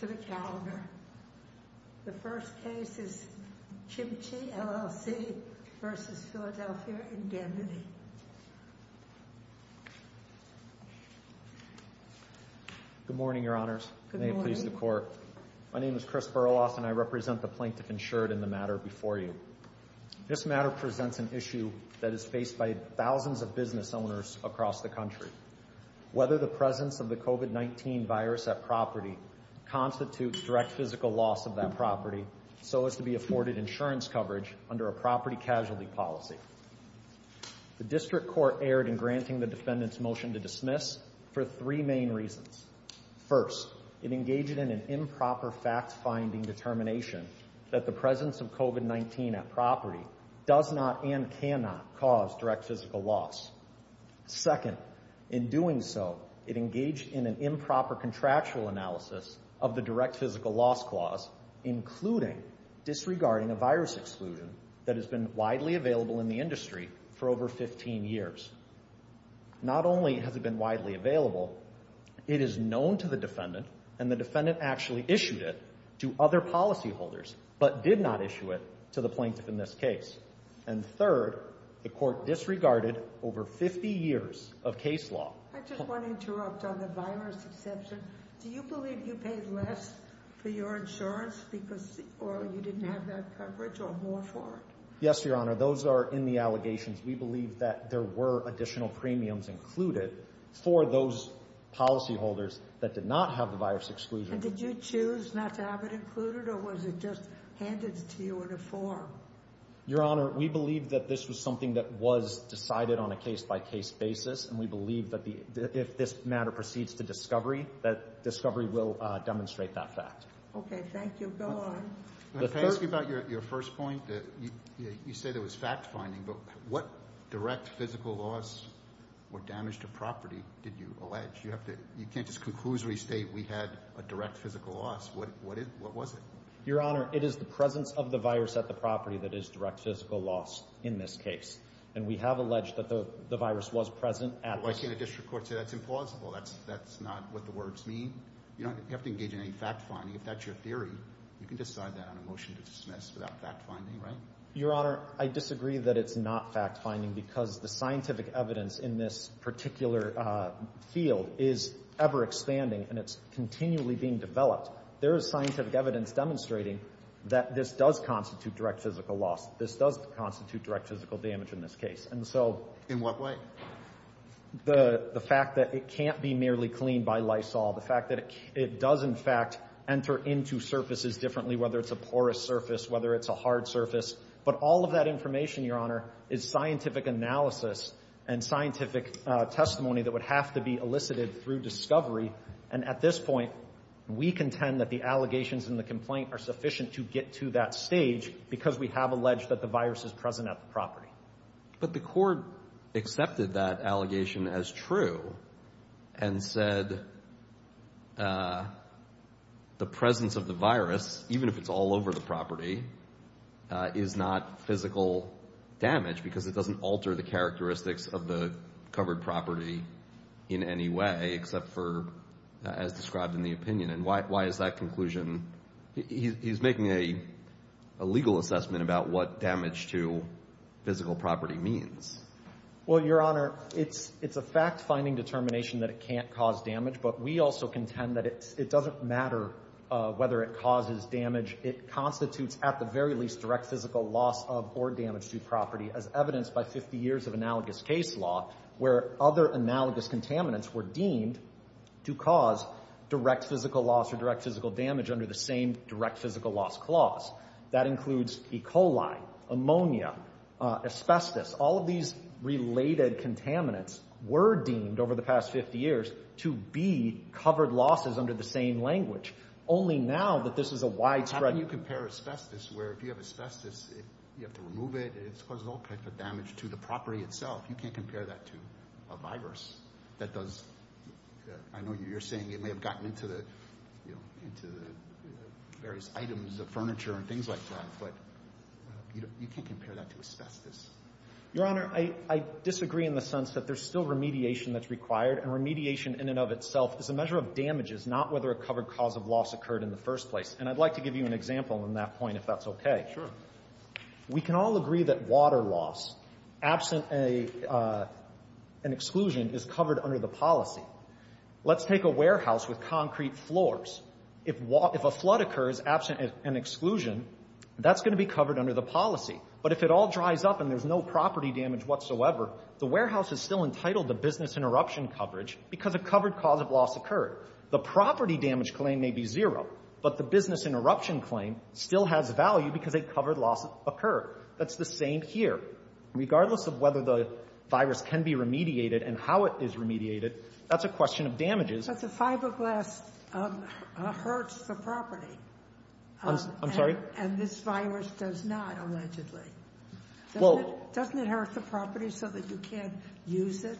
to the calendar. The first case is Kim-Chee LLC v. Philadelphia Indemnity. Good morning, your honors. May it please the court. My name is Chris Burlos and I represent the Plaintiff-Insured in the matter before you. This matter presents an issue that is faced by thousands of business owners across the country. Whether the presence of the COVID-19 virus at constitutes direct physical loss of that property so as to be afforded insurance coverage under a property casualty policy. The district court erred in granting the defendant's motion to dismiss for three main reasons. First, it engaged in an improper fact-finding determination that the presence of COVID-19 at property does not and cannot cause direct physical loss. Second, in doing so it engaged in an improper contractual analysis of the direct physical loss clause including disregarding a virus exclusion that has been widely available in the industry for over 15 years. Not only has it been widely available, it is known to the defendant and the defendant actually issued it to other policyholders but did not issue it to the plaintiff in this case. And third, the court disregarded over 50 years of case law. I just want to interrupt on the virus exception. Do you believe you paid less for your insurance because or you didn't have that coverage or more for it? Yes, your honor. Those are in the allegations. We believe that there were additional premiums included for those policyholders that did not have the virus exclusion. Did you choose not to have it included or was it just handed to you in a form? Your honor, we believe that this was something that was decided on a case-by-case basis and we believe that the if this matter proceeds to discovery that discovery will demonstrate that fact. Okay, thank you. Go on. Let's talk about your first point that you say there was fact-finding but what direct physical loss or damage to property did you allege? You have to you can't just conclusively state we had a direct physical loss. What what is what was it? Your honor, it is the presence of the virus at the property that is direct physical loss in this case and we have alleged that the the virus was present. Why can't a district court say that's implausible? That's that's not what the words mean. You don't have to engage in any fact-finding if that's your theory. You can decide that on a motion to dismiss without fact-finding, right? Your honor, I disagree that it's not fact-finding because the there is scientific evidence demonstrating that this does constitute direct physical loss. This does constitute direct physical damage in this case and so in what way? The the fact that it can't be merely cleaned by Lysol, the fact that it does in fact enter into surfaces differently, whether it's a porous surface, whether it's a hard surface, but all of that information, your honor, is scientific analysis and scientific testimony that would have to be elicited through discovery and at this point we contend that the allegations in the complaint are sufficient to get to that stage because we have alleged that the virus is present at the property. But the court accepted that allegation as true and said the presence of the virus, even if it's all over the property, is not physical damage because it as described in the opinion and why is that conclusion? He's making a legal assessment about what damage to physical property means. Well, your honor, it's a fact-finding determination that it can't cause damage but we also contend that it doesn't matter whether it causes damage. It constitutes at the very least direct physical loss of or damage to property as evidenced by 50 of analogous case law where other analogous contaminants were deemed to cause direct physical loss or direct physical damage under the same direct physical loss clause. That includes E. coli, ammonia, asbestos, all of these related contaminants were deemed over the past 50 years to be covered losses under the same language. Only now that this is a widespread... How can you compare asbestos where if you have asbestos, you have to remove it, it causes all kinds of damage to the property itself. You can't compare that to a virus that does... I know you're saying it may have gotten into the various items of furniture and things like that, but you can't compare that to asbestos. Your honor, I disagree in the sense that there's still remediation that's required and remediation in and of itself is a measure of damages, not whether a covered cause of loss occurred in the first place. And I'd like to give you an example in that point if that's okay. Sure. We can all agree that water loss, absent an exclusion, is covered under the policy. Let's take a warehouse with concrete floors. If a flood occurs absent an exclusion, that's going to be covered under the policy. But if it all dries up and there's no property damage whatsoever, the warehouse is still entitled to business interruption coverage because a covered cause of loss occurred. The property damage claim may be zero, but the business interruption claim still has value because a covered loss occurred. That's the same here. Regardless of whether the virus can be remediated and how it is remediated, that's a question of damages. But the fiberglass hurts the property. I'm sorry? And this virus does not, allegedly. Well... Doesn't it hurt the property so that you can't use it?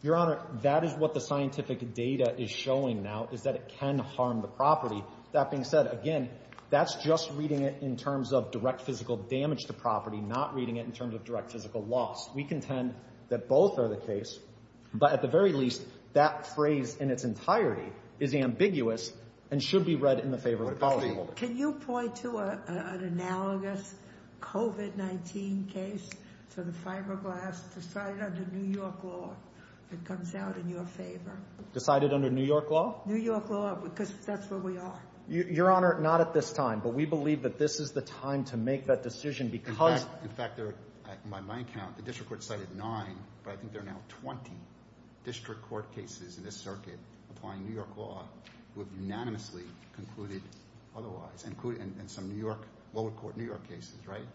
Your honor, that is what the scientific data is showing now, is that it can harm the property. That being said, again, that's just reading it in terms of direct physical damage to property, not reading it in terms of direct physical loss. We contend that both are the case, but at the very least, that phrase in its entirety is ambiguous and should be read in the favor of the policyholder. Can you point to an analogous COVID-19 case for the fiberglass decided under New York law that comes out in your favor? Decided under New York law? New York law, because that's where we are. Your honor, not at this time, but we believe that this is the time to make that decision because... In fact, by my account, the district court cited nine, but I think there are now 20 district court cases in this circuit applying New York law who have unanimously concluded otherwise, including some lower court New York cases, right?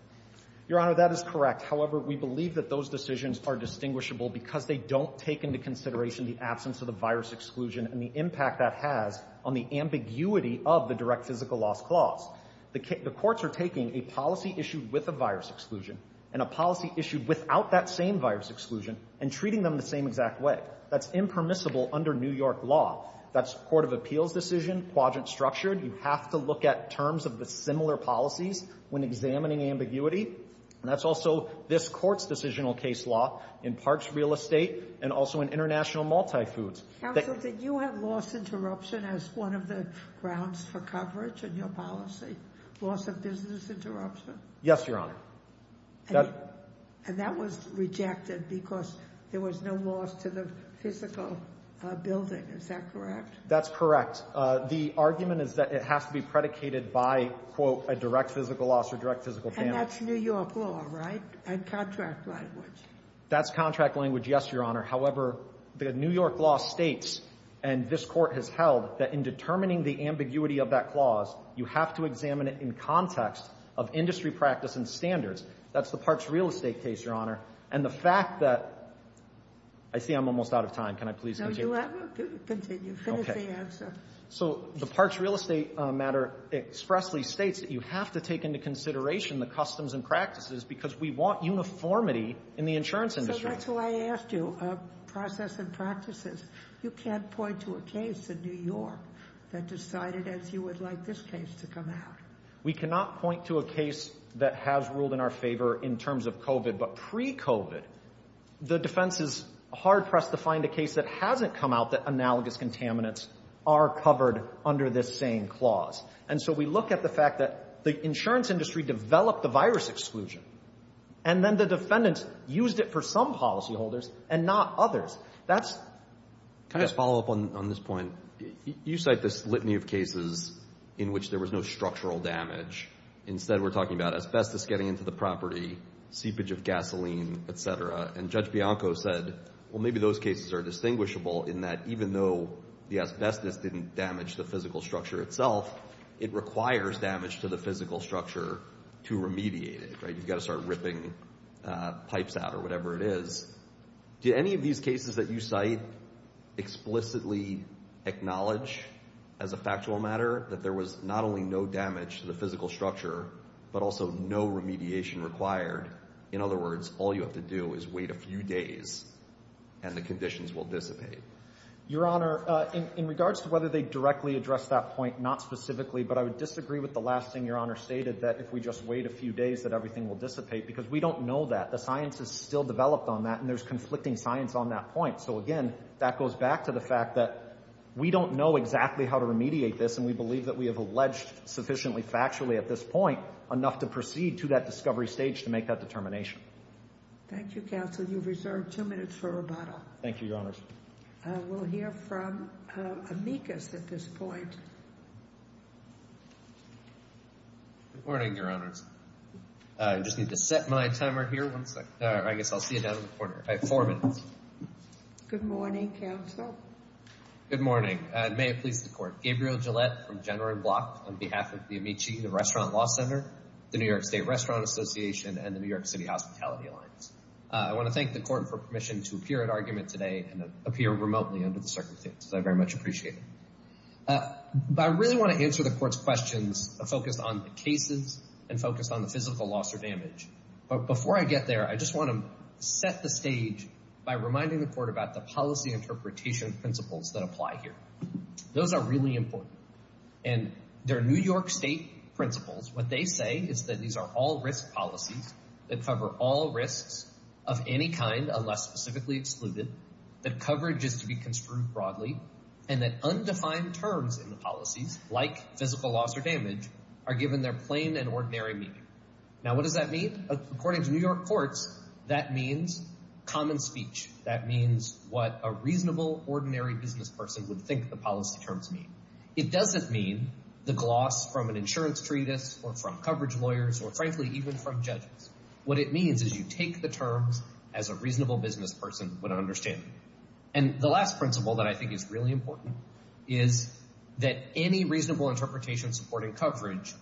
Your honor, that is correct. However, we believe that those decisions are distinguishable because they don't take into consideration the absence of the virus exclusion and the impact that has on the ambiguity of the direct physical loss clause. The courts are taking a policy issued with a virus exclusion and a policy issued without that same virus exclusion and treating them the same exact way. That's impermissible under New York law. That's a court of appeals decision, quadrant-structured. You have to look at terms of the similar policies when examining ambiguity, and that's also this Court's decisional case law in parks, real estate, and also in international multifoods. Counsel, did you have loss interruption as one of the grounds for coverage in your policy? Loss of business interruption? Yes, your honor. And that was rejected because there was no loss to the physical building. Is that correct? That's correct. The argument is that it has to be predicated by, quote, a direct physical loss or direct physical damage. And that's New York law, right? And contract language. That's contract language, yes, your honor. However, the New York law states, and this Court has held, that in determining the ambiguity of that clause, you have to examine it in context of industry practice and standards. That's the parks, real estate case, your honor. And the fact that – I see I'm almost out of time. Can I please continue? No, you have to continue. Finish the answer. So the parks, real estate matter expressly states that you have to take into consideration the customs and practices because we want uniformity in the insurance industry. So that's why I asked you, process and practices. You can't point to a case in New York that decided as you would like this case to come out. We cannot point to a case that has ruled in our favor in terms of COVID. But pre-COVID, the defense is hard-pressed to find a case that hasn't come out that analogous contaminants are covered under this same clause. And so we look at the fact that the insurance industry developed the virus exclusion, and then the defendants used it for some policyholders and not others. That's – Can I just follow up on this point? You cite this litany of cases in which there was no structural damage. Instead, we're talking about asbestos getting into the property, seepage of gasoline, et cetera. And Judge Bianco said, well, maybe those cases are distinguishable in that even though the asbestos didn't damage the physical structure itself, it requires damage to the physical structure to remediate it, right? You've got to start ripping pipes out or whatever it is. Do any of these cases that you cite explicitly acknowledge as a factual matter that there was not only no damage to the physical structure, but also no remediation required? In other words, all you have to do is wait a few days and the conditions will dissipate. Your Honor, in regards to whether they directly address that point, not specifically, but I would disagree with the last thing Your Honor stated, that if we just wait a few days, that everything will dissipate. Because we don't know that. The science is still developed on that, and there's conflicting science on that point. So again, that goes back to the fact that we don't know exactly how to remediate this, and we believe that we have alleged sufficiently factually at this point enough to proceed to that discovery stage to make that determination. Thank you, Counsel. You've reserved two minutes for rebuttal. Thank you, Your Honors. We'll hear from Amicus at this point. Good morning, Your Honors. I just need to set my timer here. One second. I guess I'll see you down in the corner. I have four minutes. Good morning, Counsel. Good morning, and may it please the Court. Gabriel Gillette from General & Block on behalf of the Amici, the Restaurant Law Center, the New York State Restaurant Association, and the New York City Hospitality Alliance. I want to thank the Court for permission to appear at argument today and appear remotely under the circumstances. I very much appreciate it. But I really want to answer the Court's questions focused on the cases and focused on the physical loss or damage. But before I get there, I just want to set the stage by reminding the Court about the policy interpretation principles that apply here. Those are really important, and they're New York State principles. What they say is that these are all risk policies that cover all risks of any kind unless specifically excluded, that coverage is to be construed broadly, and that undefined terms in the policies, like physical loss or damage, are given their plain and ordinary meaning. Now, what does that mean? According to New York courts, that means common speech. That means what a reasonable, ordinary business person would think the policy terms mean. It doesn't mean the gloss from an insurance treatise or from What it means is you take the terms as a reasonable business person would understand. And the last principle that I think is really important is that any reasonable interpretation supporting coverage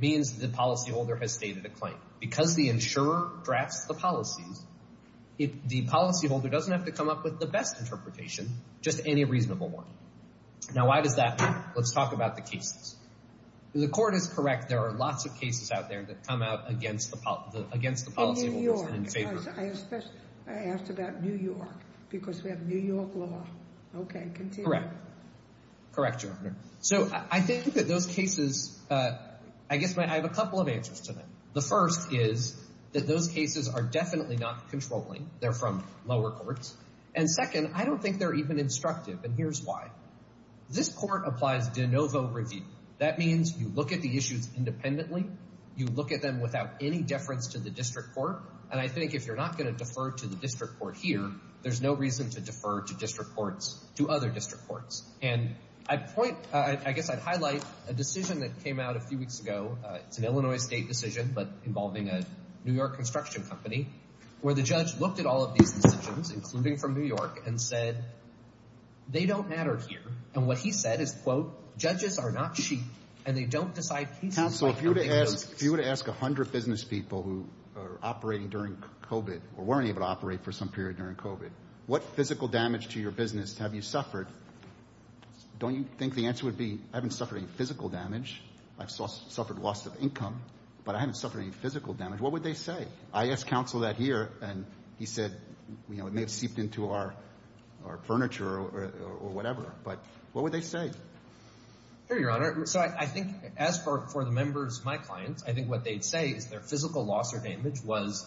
means that the policyholder has stated a claim. Because the insurer drafts the policies, the policyholder doesn't have to come up with the best interpretation, just any reasonable one. Now, why does that matter? Let's talk about the cases. The court is correct. There are lots of cases out there that come out against the policyholders and in favor. In New York. I asked about New York because we have New York law. Okay, continue. Correct. Correct, Your Honor. So I think that those cases, I guess I have a couple of answers to them. The first is that those cases are definitely not controlling. They're from lower courts. And second, I don't think they're even constructive. And here's why. This court applies de novo review. That means you look at the issues independently. You look at them without any deference to the district court. And I think if you're not going to defer to the district court here, there's no reason to defer to district courts to other district courts. And I'd point, I guess I'd highlight a decision that came out a few weeks ago. It's an Illinois state decision, but involving a New York construction company where the judge looked at all of these decisions, including from New York and said, they don't matter here. And what he said is, quote, judges are not cheap and they don't decide. Counsel, if you were to ask a hundred business people who are operating during COVID or weren't able to operate for some period during COVID, what physical damage to your business have you suffered? Don't you think the answer would be I haven't suffered any physical damage. I've suffered loss of income, but I haven't suffered any physical damage. What would they say? I asked counsel that here, and he said, you know, it may have seeped into our, our furniture or whatever, but what would they say? Here, your honor. So I think as for the members of my clients, I think what they'd say is their physical loss or damage was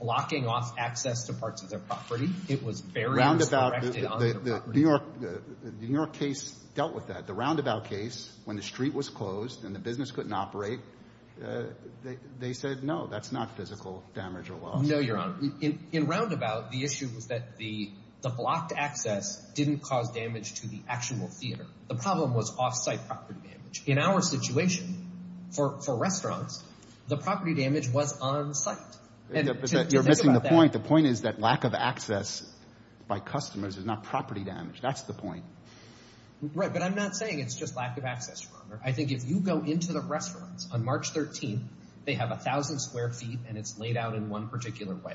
blocking off access to parts of their property. It was buried. The New York, the New York case dealt with that. The roundabout case, when the street was closed and the business couldn't operate, they said, no, that's not physical damage or loss. No, your honor. In roundabout, the issue was that the, the blocked access didn't cause damage to the actual theater. The problem was offsite property damage. In our situation for, for restaurants, the property damage was on site. You're missing the point. The point is that lack of access by customers is not property damage. That's the point. Right. But I'm not saying it's just lack access, your honor. I think if you go into the restaurants on March 13th, they have a thousand square feet and it's laid out in one particular way.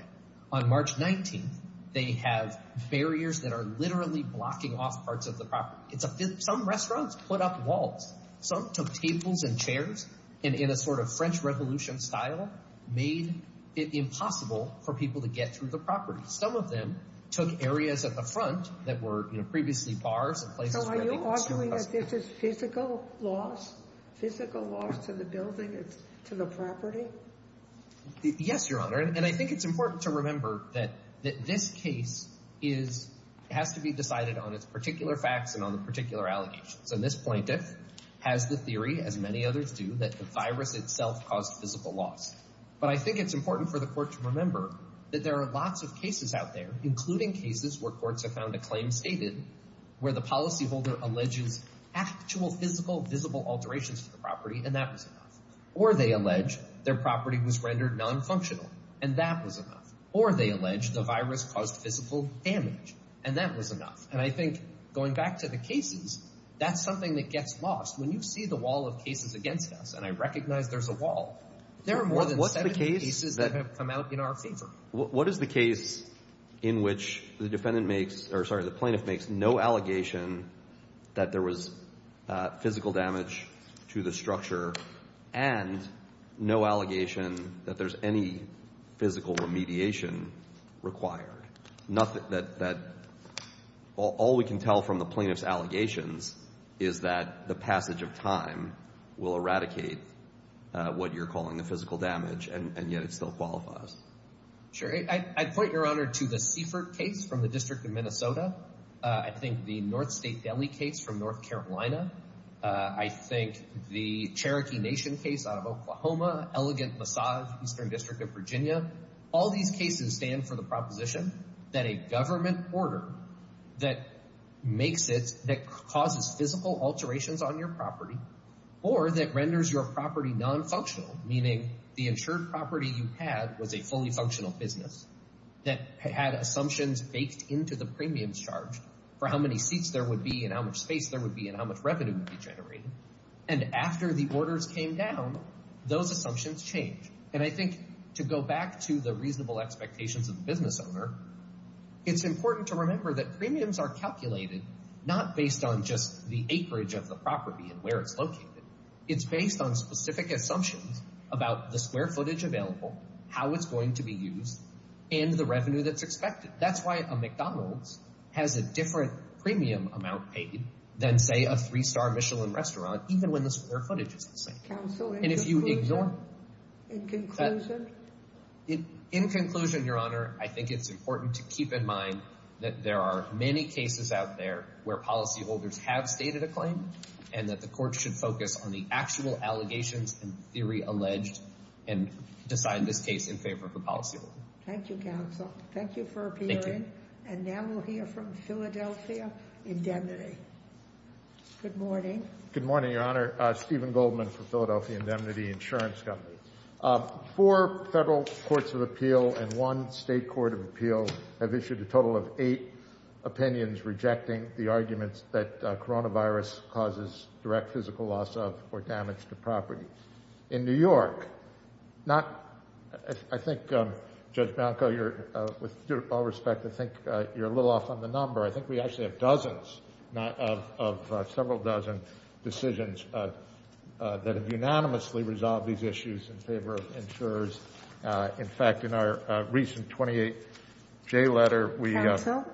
On March 19th, they have barriers that are literally blocking off parts of the property. It's a, some restaurants put up walls. Some took tables and chairs and in a sort of French revolution style, made it impossible for people to get through the property. Some of them took areas at the front that were, you know, previously bars. So are you arguing that this is physical loss, physical loss to the building, to the property? Yes, your honor. And I think it's important to remember that, that this case is, has to be decided on its particular facts and on the particular allegations. And this plaintiff has the theory, as many others do, that the virus itself caused physical loss. But I think it's important for the court to remember that there are lots of cases out there, including cases where courts have found a claim stated where the policyholder alleges actual physical, visible alterations to the property. And that was enough. Or they allege their property was rendered non-functional and that was enough. Or they allege the virus caused physical damage and that was enough. And I think going back to the cases, that's something that gets lost when you see the wall of cases against us. And I recognize there's a wall. There are more than cases that have come out in our favor. What is the case in which the defendant makes, or sorry, the plaintiff makes no allegation that there was physical damage to the structure and no allegation that there's any physical remediation required? Nothing, that, that all we can tell from the plaintiff's allegations is that the passage of time will eradicate what you're calling the physical damage and yet it still qualifies. Sure. I'd point your honor to the Seaford case from the District of Minnesota. I think the North State Deli case from North Carolina. I think the Cherokee Nation case out of Oklahoma. Elegant Massage, Eastern District of Virginia. All these cases stand for the proposition that a government order that makes it, that causes physical alterations on your property or that renders your property non-functional, meaning the insured property you had was a fully functional business that had assumptions baked into the premiums charged for how many seats there would be and how much space there would be and how much revenue would be generated. And after the orders came down, those assumptions change. And I think to go back to the reasonable expectations of the business owner, it's important to remember that premiums are calculated not based on just the acreage of the property and where it's located. It's based on specific assumptions about the square footage available, how it's going to be used, and the revenue that's expected. That's why a McDonald's has a different premium amount paid than, say, a three-star Michelin restaurant, even when the square footage is the same. Counsel, in conclusion, in conclusion? In conclusion, your honor, I think it's important to keep in mind that there are many cases out where policyholders have stated a claim and that the court should focus on the actual allegations and theory alleged and decide this case in favor of the policyholder. Thank you, counsel. Thank you for appearing. Thank you. And now we'll hear from Philadelphia Indemnity. Good morning. Good morning, your honor. Stephen Goldman from Philadelphia Indemnity Insurance Company. Four federal courts of appeal and one state court of appeal have issued a total of eight opinions rejecting the arguments that coronavirus causes direct physical loss of or damage to property. In New York, I think, Judge Bianco, with all respect, I think you're a little off on the number. I think we actually have dozens of several dozen decisions that have unanimously resolved these issues in favor of insurers. In fact, in our recent 28-J letter, we... Counsel,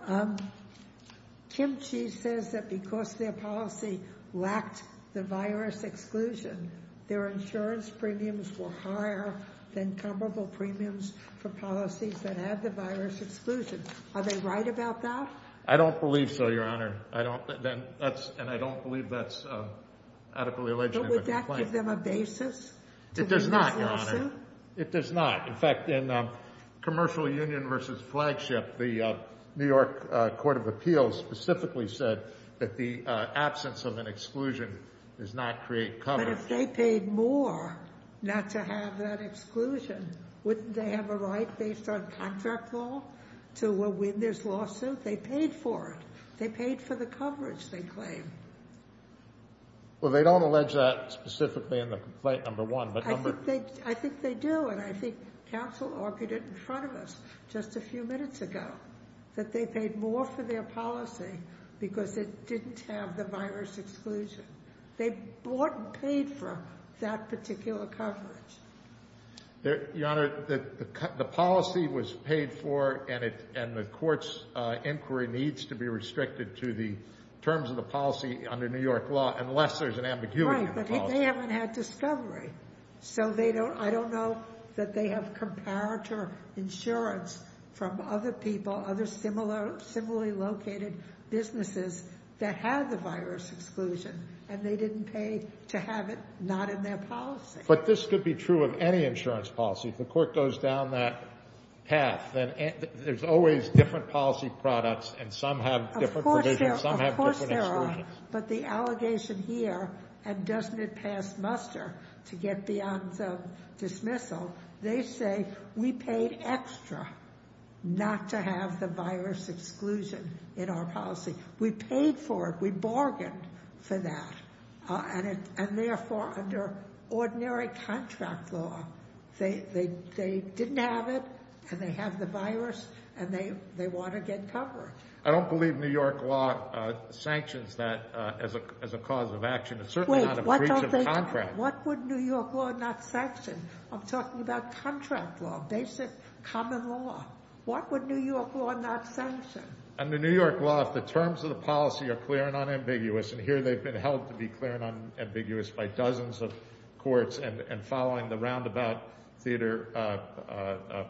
Kim Chi says that because their policy lacked the virus exclusion, their insurance premiums were higher than comparable premiums for policies that had the virus exclusion. Are they right about that? I don't believe so, your honor. I don't... And I don't believe that's adequately alleged. But would that give them a basis? It does not, your honor. It does not. In fact, in Commercial Union versus Flagship, the New York Court of Appeals specifically said that the absence of an exclusion does not create cover. But if they paid more not to have that exclusion, wouldn't they have a right based on contract law to win this lawsuit? They paid for it. They paid for the coverage, they claim. Well, they don't allege that specifically in the complaint number one, but number... That they paid more for their policy because it didn't have the virus exclusion. They bought and paid for that particular coverage. Your honor, the policy was paid for and the court's inquiry needs to be restricted to the terms of the policy under New York law, unless there's an ambiguity. Right, but they haven't had discovery. So they don't... I don't know that they have comparator insurance from other people, other similarly located businesses that have the virus exclusion, and they didn't pay to have it not in their policy. But this could be true of any insurance policy. If the court goes down that path, then there's always different policy products and some have different provisions, some have different exclusions. Of course there are. But the allegation here, and doesn't it pass muster to get beyond the dismissal, they say we paid extra not to have the virus exclusion in our policy. We paid for it, we bargained for that, and therefore under ordinary contract law, they didn't have it and they have the virus and they want to get covered. I don't believe New York law sanctions that as a cause of action. It's certainly not a breach of contract. What would New York law not sanction? I'm talking about contract law, basic common law. What would New York law not sanction? Under New York law, if the terms of the policy are clear and unambiguous, and here they've been held to be clear and unambiguous by dozens of courts and following the roundabout theater of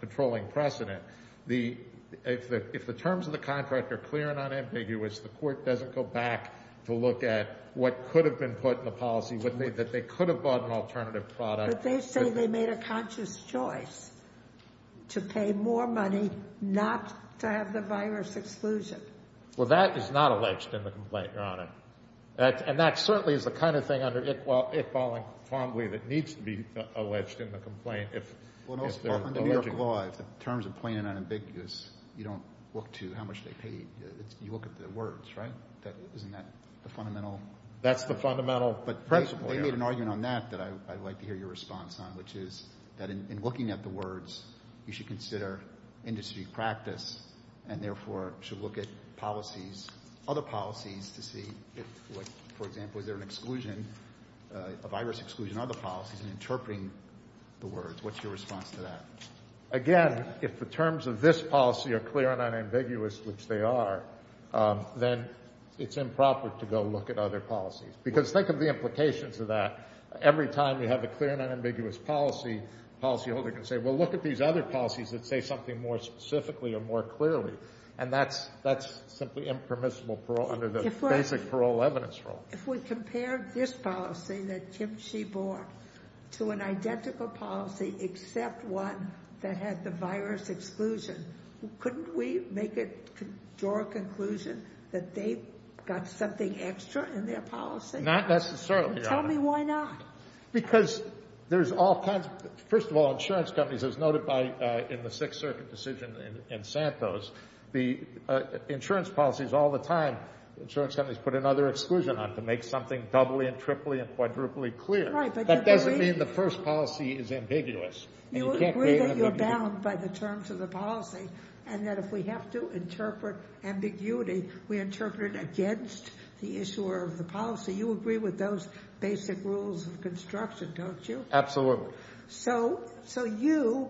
controlling precedent, if the terms of the contract are clear and unambiguous, the court doesn't go back to look at what could have been put in the policy, that they could have bought an alternative product. But they say they made a conscious choice to pay more money not to have the virus exclusion. Well, that is not alleged in the complaint, Your Honor. And that certainly is the kind of thing if following fondly that needs to be alleged in the complaint. Well, under New York law, if the terms are plain and unambiguous, you don't look to how much they paid. You look at the words, right? Isn't that the fundamental? That's the fundamental principle. They made an argument on that that I'd like to hear your response on, which is that in looking at the words, you should consider industry practice and therefore should look at policies, other policies to see if, for example, is there an exclusion of virus exclusion, other policies in interpreting the words. What's your response to that? Again, if the terms of this policy are clear and unambiguous, which they are, then it's improper to go look at other policies. Because think of the implications of that. Every time we have a clear and unambiguous policy, the policyholder can say, well, look at these other policies that say something more specifically or more clearly. And that's simply impermissible parole under the basic parole evidence rule. If we compare this policy that she bore to an identical policy, except one that had the virus exclusion, couldn't we make it to our conclusion that they got something extra in their policy? Not necessarily. Tell me why not? Because there's all kinds. First of all, insurance companies, as noted by in the Sixth Circuit decision in Santos, the insurance policies all the time, insurance companies put another exclusion on it to make something doubly and triply and quadruply clear. That doesn't mean the first policy is ambiguous. You agree that you're bound by the terms of the policy and that if we have to interpret ambiguity, we interpret it against the issuer of the policy. You agree with those basic rules of construction, don't you? Absolutely. So, so you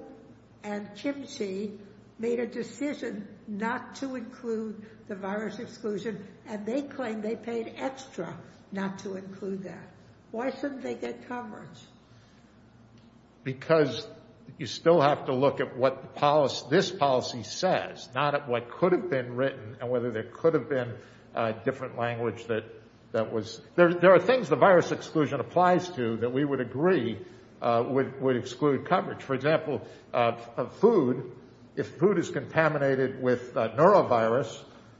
and Chimsey made a decision not to include the virus exclusion and they claim they paid extra not to include that. Why shouldn't they get coverage? Because you still have to look at what the policy, this policy says, not at what could have been written and whether there could have been a different language that, that there are things the virus exclusion applies to that we would agree would exclude coverage. For example, food, if food is contaminated with a neurovirus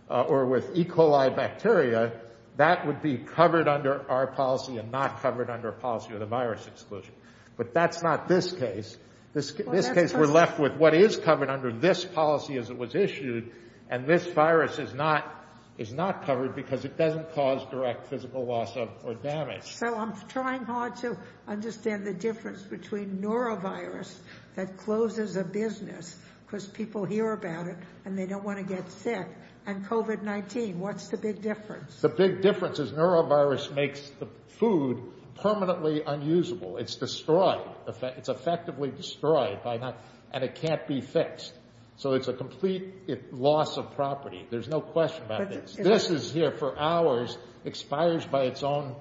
or with E. coli bacteria, that would be covered under our policy and not covered under a policy of the virus exclusion. But that's not this case. This case, we're left with what is covered under this policy as it was issued. And this virus is not, is not covered because it doesn't cause direct physical loss or damage. So I'm trying hard to understand the difference between neurovirus that closes a business because people hear about it and they don't want to get sick and COVID-19. What's the big difference? The big difference is neurovirus makes the food permanently unusable. It's destroyed. It's effectively destroyed by now and it can't be fixed. So it's a complete loss of property. There's no question about this. This is here for hours, expires by its own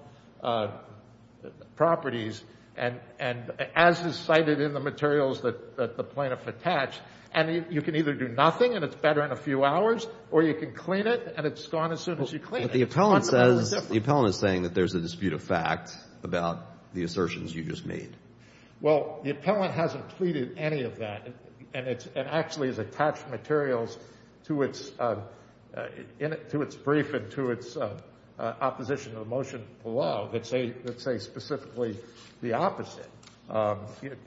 properties. And, and as is cited in the materials that the plaintiff attached, and you can either do nothing and it's better in a few hours or you can clean it and it's gone as soon as you clean it. But the appellant says, the appellant is saying that there's a dispute of fact about the assertions you just made. Well, the appellant hasn't pleaded any of that. And it's, it actually has attached materials to its, to its brief and to its opposition of the motion below that say, that say specifically the opposite.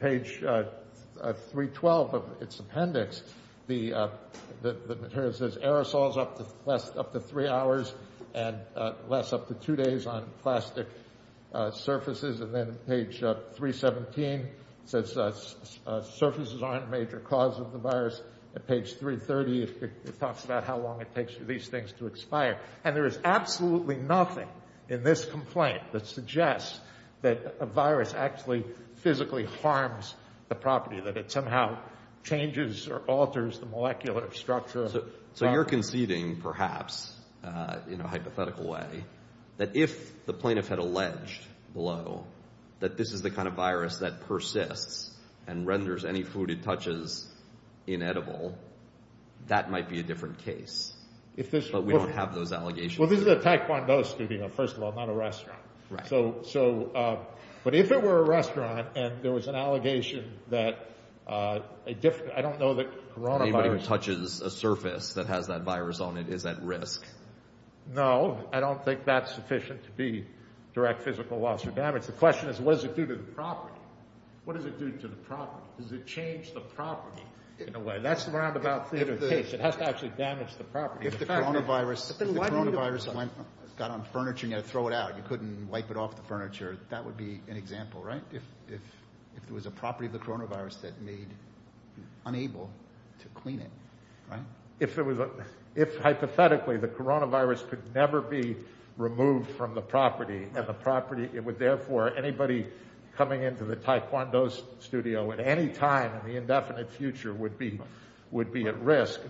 Page 312 of its appendix, the, the material says aerosols up to less, up to three hours and less up to two days on plastic surfaces. And then page 317 says surfaces aren't a major cause of the virus. At page 330, it talks about how long it takes for these things to expire. And there is absolutely nothing in this complaint that suggests that a virus actually physically harms the property, that it somehow changes or alters the molecular structure. So, so you're conceding perhaps, uh, you know, hypothetical way that if the plaintiff had alleged below that this is the kind of virus that persists and renders any food it edible, that might be a different case. If this, but we don't have those allegations. Well, this is a Taekwondo studio, first of all, not a restaurant. Right. So, so, uh, but if it were a restaurant and there was an allegation that, uh, a different, I don't know that coronavirus... Anybody who touches a surface that has that virus on it is at risk. No, I don't think that's sufficient to be direct physical loss or damage. The question is, what does it do to the property? What does it do to the property? Does it change the property in a way? That's the roundabout theory of the case. It has to actually damage the property. If the coronavirus, if the coronavirus got on furniture and you had to throw it out, you couldn't wipe it off the furniture. That would be an example, right? If, if, if there was a property of the coronavirus that made, unable to clean it, right? If there was a, if hypothetically the coronavirus could never be removed from the property and the property, it would therefore, anybody coming into the Taekwondo studio at any time in the indefinite future would be, would be at risk.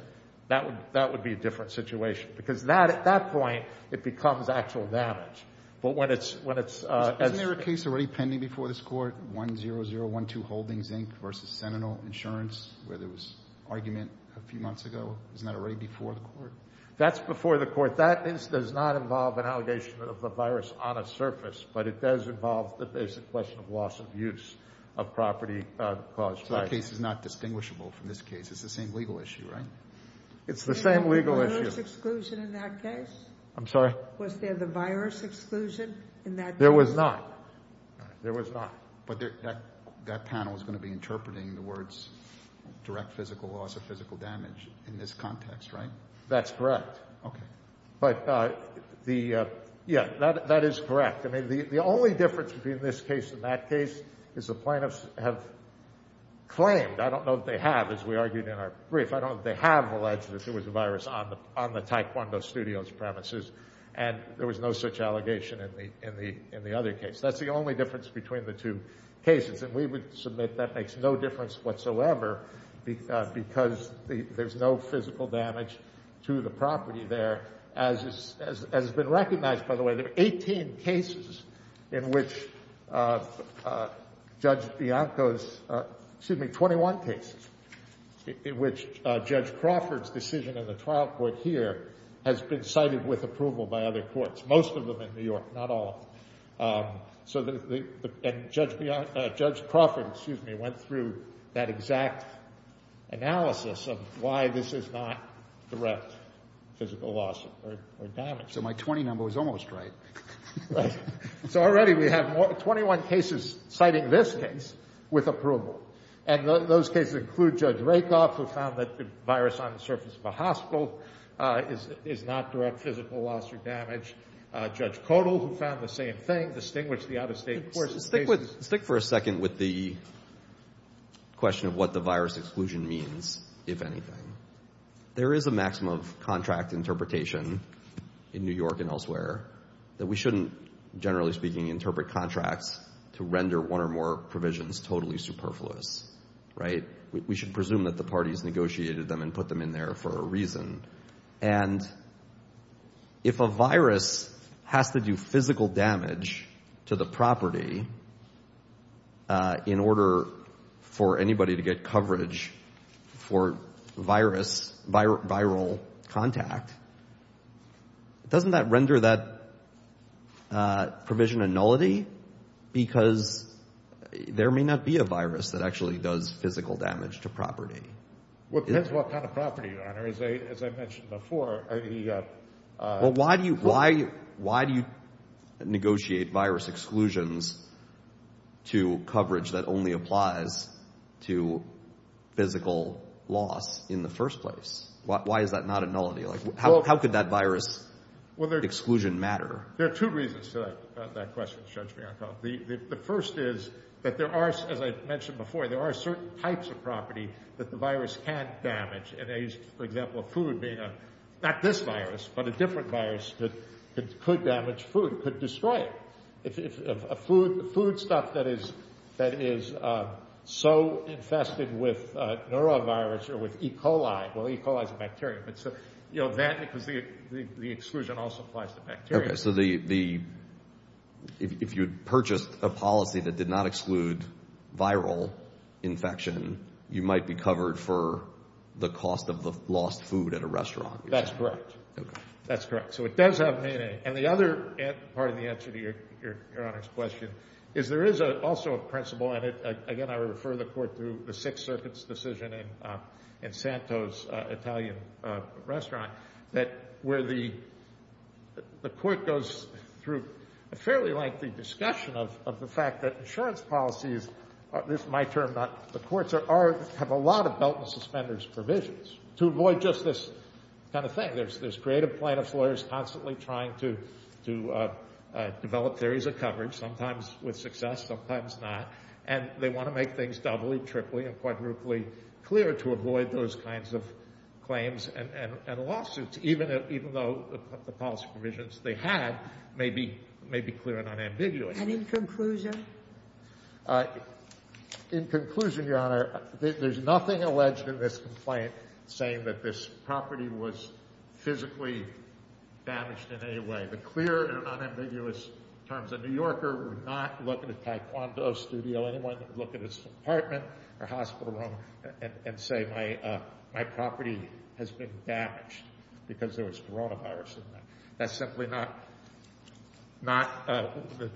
That would, that would be a different situation because that, at that point, it becomes actual damage. But when it's, when it's, uh... Isn't there a case already pending before this court? 10012 Holdings Inc versus Sentinel Insurance, where there was argument a few months ago. Isn't that already before the court? That's before the court. That is, does not involve an allegation of a virus on a surface, but it does involve the basic question of loss of use of property, uh, caused by... The case is not distinguishable from this case. It's the same legal issue, right? It's the same legal issue. Was there a virus exclusion in that case? I'm sorry? Was there the virus exclusion in that case? There was not. There was not. But there, that, that panel is going to be interpreting the words direct physical loss of physical damage in this context, right? That's correct. Okay. But, uh, the, uh, yeah, that, that is correct. I mean, the, the only difference between this case and that case is the plaintiffs have claimed, I don't know if they have, as we argued in our brief, I don't know if they have alleged that there was a virus on the, on the Taekwondo Studios premises. And there was no such allegation in the, in the, in the other case. That's the only difference between the two cases. And we would submit that makes no difference whatsoever because, uh, because the, there's no physical damage to the property there as is, as, as has been recognized by the way. There are 18 cases in which, uh, uh, Judge Bianco's, uh, excuse me, 21 cases in which, uh, Judge Crawford's decision in the trial court here has been cited with approval by other courts. Most of them in New York, not all. Um, so the, the, and Judge Bianco, uh, Judge Crawford, excuse me, went through that exact analysis of why this is not direct physical loss or, or damage. So my 20 number was almost right. Right. So already we have 21 cases citing this case with approval. And those cases include Judge Rakoff who found that the virus on the surface of a hospital, uh, is, is not direct physical loss or damage. Uh, Judge Kodal who found the same thing. Distinguish the out-of-state courts. Stick with, stick for a second with the question of what the virus exclusion means, if anything. There is a maximum of contract interpretation in New York and elsewhere that we shouldn't, generally speaking, interpret contracts to render one or more provisions totally superfluous. Right. We should presume that the parties negotiated them and put them in there for a reason. And if a virus has to do physical damage to the property, uh, in order for anybody to get coverage for virus, viral contact, doesn't that render that, uh, provision a nullity? Because there may not be a virus that actually does physical damage to property. Well, it depends what kind of property, Your Honor. As I, as I mentioned before, I mean, uh... Well, why do you, why, why do you negotiate virus exclusions to coverage that only applies to physical loss in the first place? Why, why is that not a nullity? Like, how, how could that virus exclusion matter? There are two reasons to that, uh, that question, Judge Bianco. The, the, the first is that there are, as I mentioned before, there are certain types of property that the virus can damage. And I used, for example, food being a, not this virus, but a different virus that could damage food, could destroy it. If, if a food, food stuff that is, that is, uh, so infested with, uh, neurovirus or with E. coli, well, E. coli is a bacteria, but so, you know, that, because the, the, the exclusion also applies to bacteria. Okay, so the, the, if, if you had purchased a policy that did not exclude viral infection, you might be covered for the cost of the lost food at a restaurant. That's correct. That's correct. So it does have meaning. And the other part of the answer to your, your, your Honor's question is there is a, also a principle in it. Again, I refer the court to the Sixth Circuit's decision in, uh, in Santo's, uh, Italian, uh, restaurant that where the, the court goes through a fairly lengthy discussion of, of the fact that insurance policies, this is my term, not the court's, are, have a lot of belt and suspenders provisions to avoid just this kind of thing. There's, there's creative plaintiff's lawyers constantly trying to, to, uh, uh, develop theories of coverage, sometimes with success, sometimes not. And they want to make things doubly, triply, and quadruply clear to avoid those kinds of claims and, and, and lawsuits, even if, even though the policy provisions they had may be, may be clear and unambiguous. And in conclusion? Uh, in conclusion, Your Honor, there's nothing alleged in this complaint saying that this physically damaged in any way. The clear and unambiguous terms of New Yorker would not look at a Taekwondo studio, anyone that would look at his apartment or hospital room and say, my, uh, my property has been damaged because there was coronavirus in that. That's simply not, not, uh,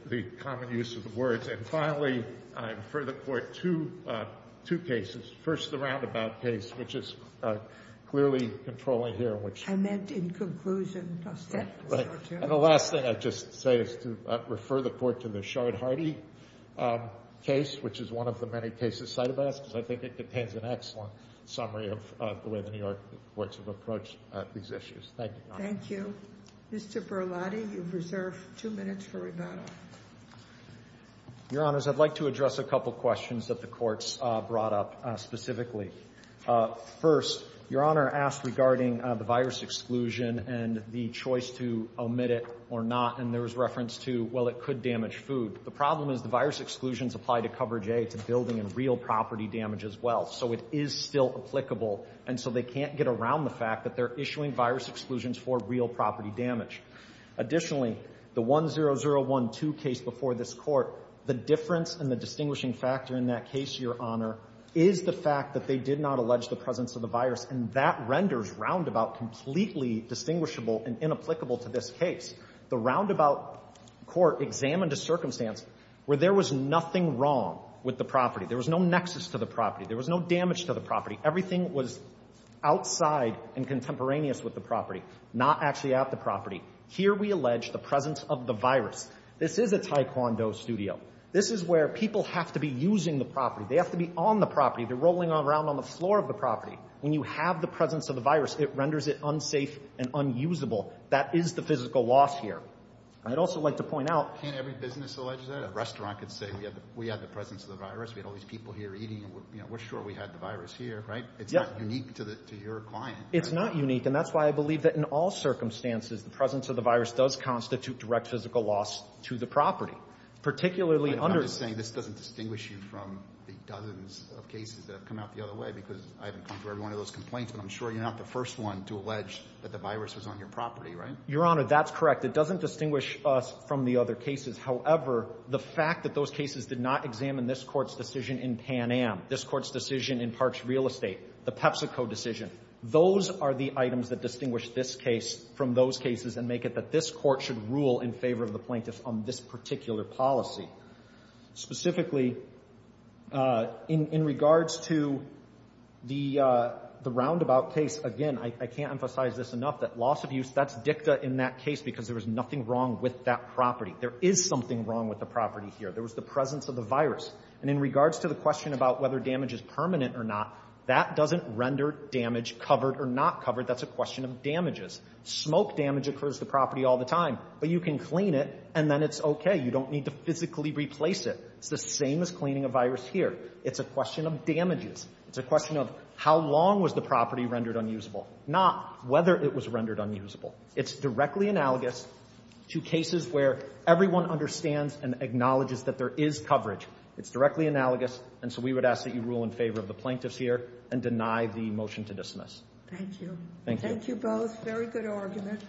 the common use of the words. And finally, I refer the court to, uh, two cases. First, the Roundabout case, which is, uh, clearly controlling here, which... In conclusion, I'll stop there. And the last thing I'd just say is to refer the court to the Shard-Hardy, um, case, which is one of the many cases cited by us, because I think it contains an excellent summary of, uh, the way the New York courts have approached, uh, these issues. Thank you, Your Honor. Thank you. Mr. Berlotti, you've reserved two minutes for rebuttal. Your Honors, I'd like to address a couple of questions that the courts, uh, brought up, uh, specifically. Uh, first, Your Honor asked regarding, uh, the virus exclusion and the choice to omit it or not. And there was reference to, well, it could damage food. The problem is the virus exclusions apply to coverage A to building and real property damage as well. So it is still applicable. And so they can't get around the fact that they're issuing virus exclusions for real property damage. Additionally, the 10012 case before this court, the difference and the distinguishing factor in that case, Your Honor, is the fact that they did not allege the presence of the virus. And that renders Roundabout completely distinguishable and inapplicable to this case. The Roundabout court examined a circumstance where there was nothing wrong with the property. There was no nexus to the property. There was no damage to the property. Everything was outside and contemporaneous with the property, not actually at the property. Here, we allege the presence of the virus. This is a taekwondo studio. This is where people have to be using the property. They have to be on the property. They're rolling around on the floor of the property. When you have the presence of the virus, it renders it unsafe and unusable. That is the physical loss here. I'd also like to point out. Can't every business allege that? A restaurant could say, we have the presence of the virus. We had all these people here eating. We're sure we had the virus here, right? It's not unique to your client. It's not unique. And that's why I believe that in all circumstances, the presence of the virus does constitute direct physical loss to the property. Particularly under. I'm just saying this doesn't distinguish you from the dozens of cases that have come out the other way because I haven't come to every one of those complaints, but I'm sure you're not the first one to allege that the virus was on your property, right? Your Honor, that's correct. It doesn't distinguish us from the other cases. However, the fact that those cases did not examine this court's decision in Pan Am, this court's decision in Parks Real Estate, the PepsiCo decision, those are the items that distinguish this case from those cases and make it that this court should rule in favor of the plaintiff on this particular policy. Specifically, in regards to the roundabout case, again, I can't emphasize this enough that loss of use, that's dicta in that case because there was nothing wrong with that property. There is something wrong with the property here. There was the presence of the virus. And in regards to the question about whether damage is permanent or not, that doesn't render damage covered or not covered. That's a question of damages. Smoke damage occurs to property all the time, but you can clean it and then it's okay. You don't need to physically replace it. It's the same as cleaning a virus here. It's a question of damages. It's a question of how long was the property rendered unusable, not whether it was rendered unusable. It's directly analogous to cases where everyone understands and acknowledges that there is coverage. It's directly analogous. And so we would ask that you rule in favor of the plaintiffs here and deny the motion to dismiss. Thank you. Thank you. Thank you both. Very good argument.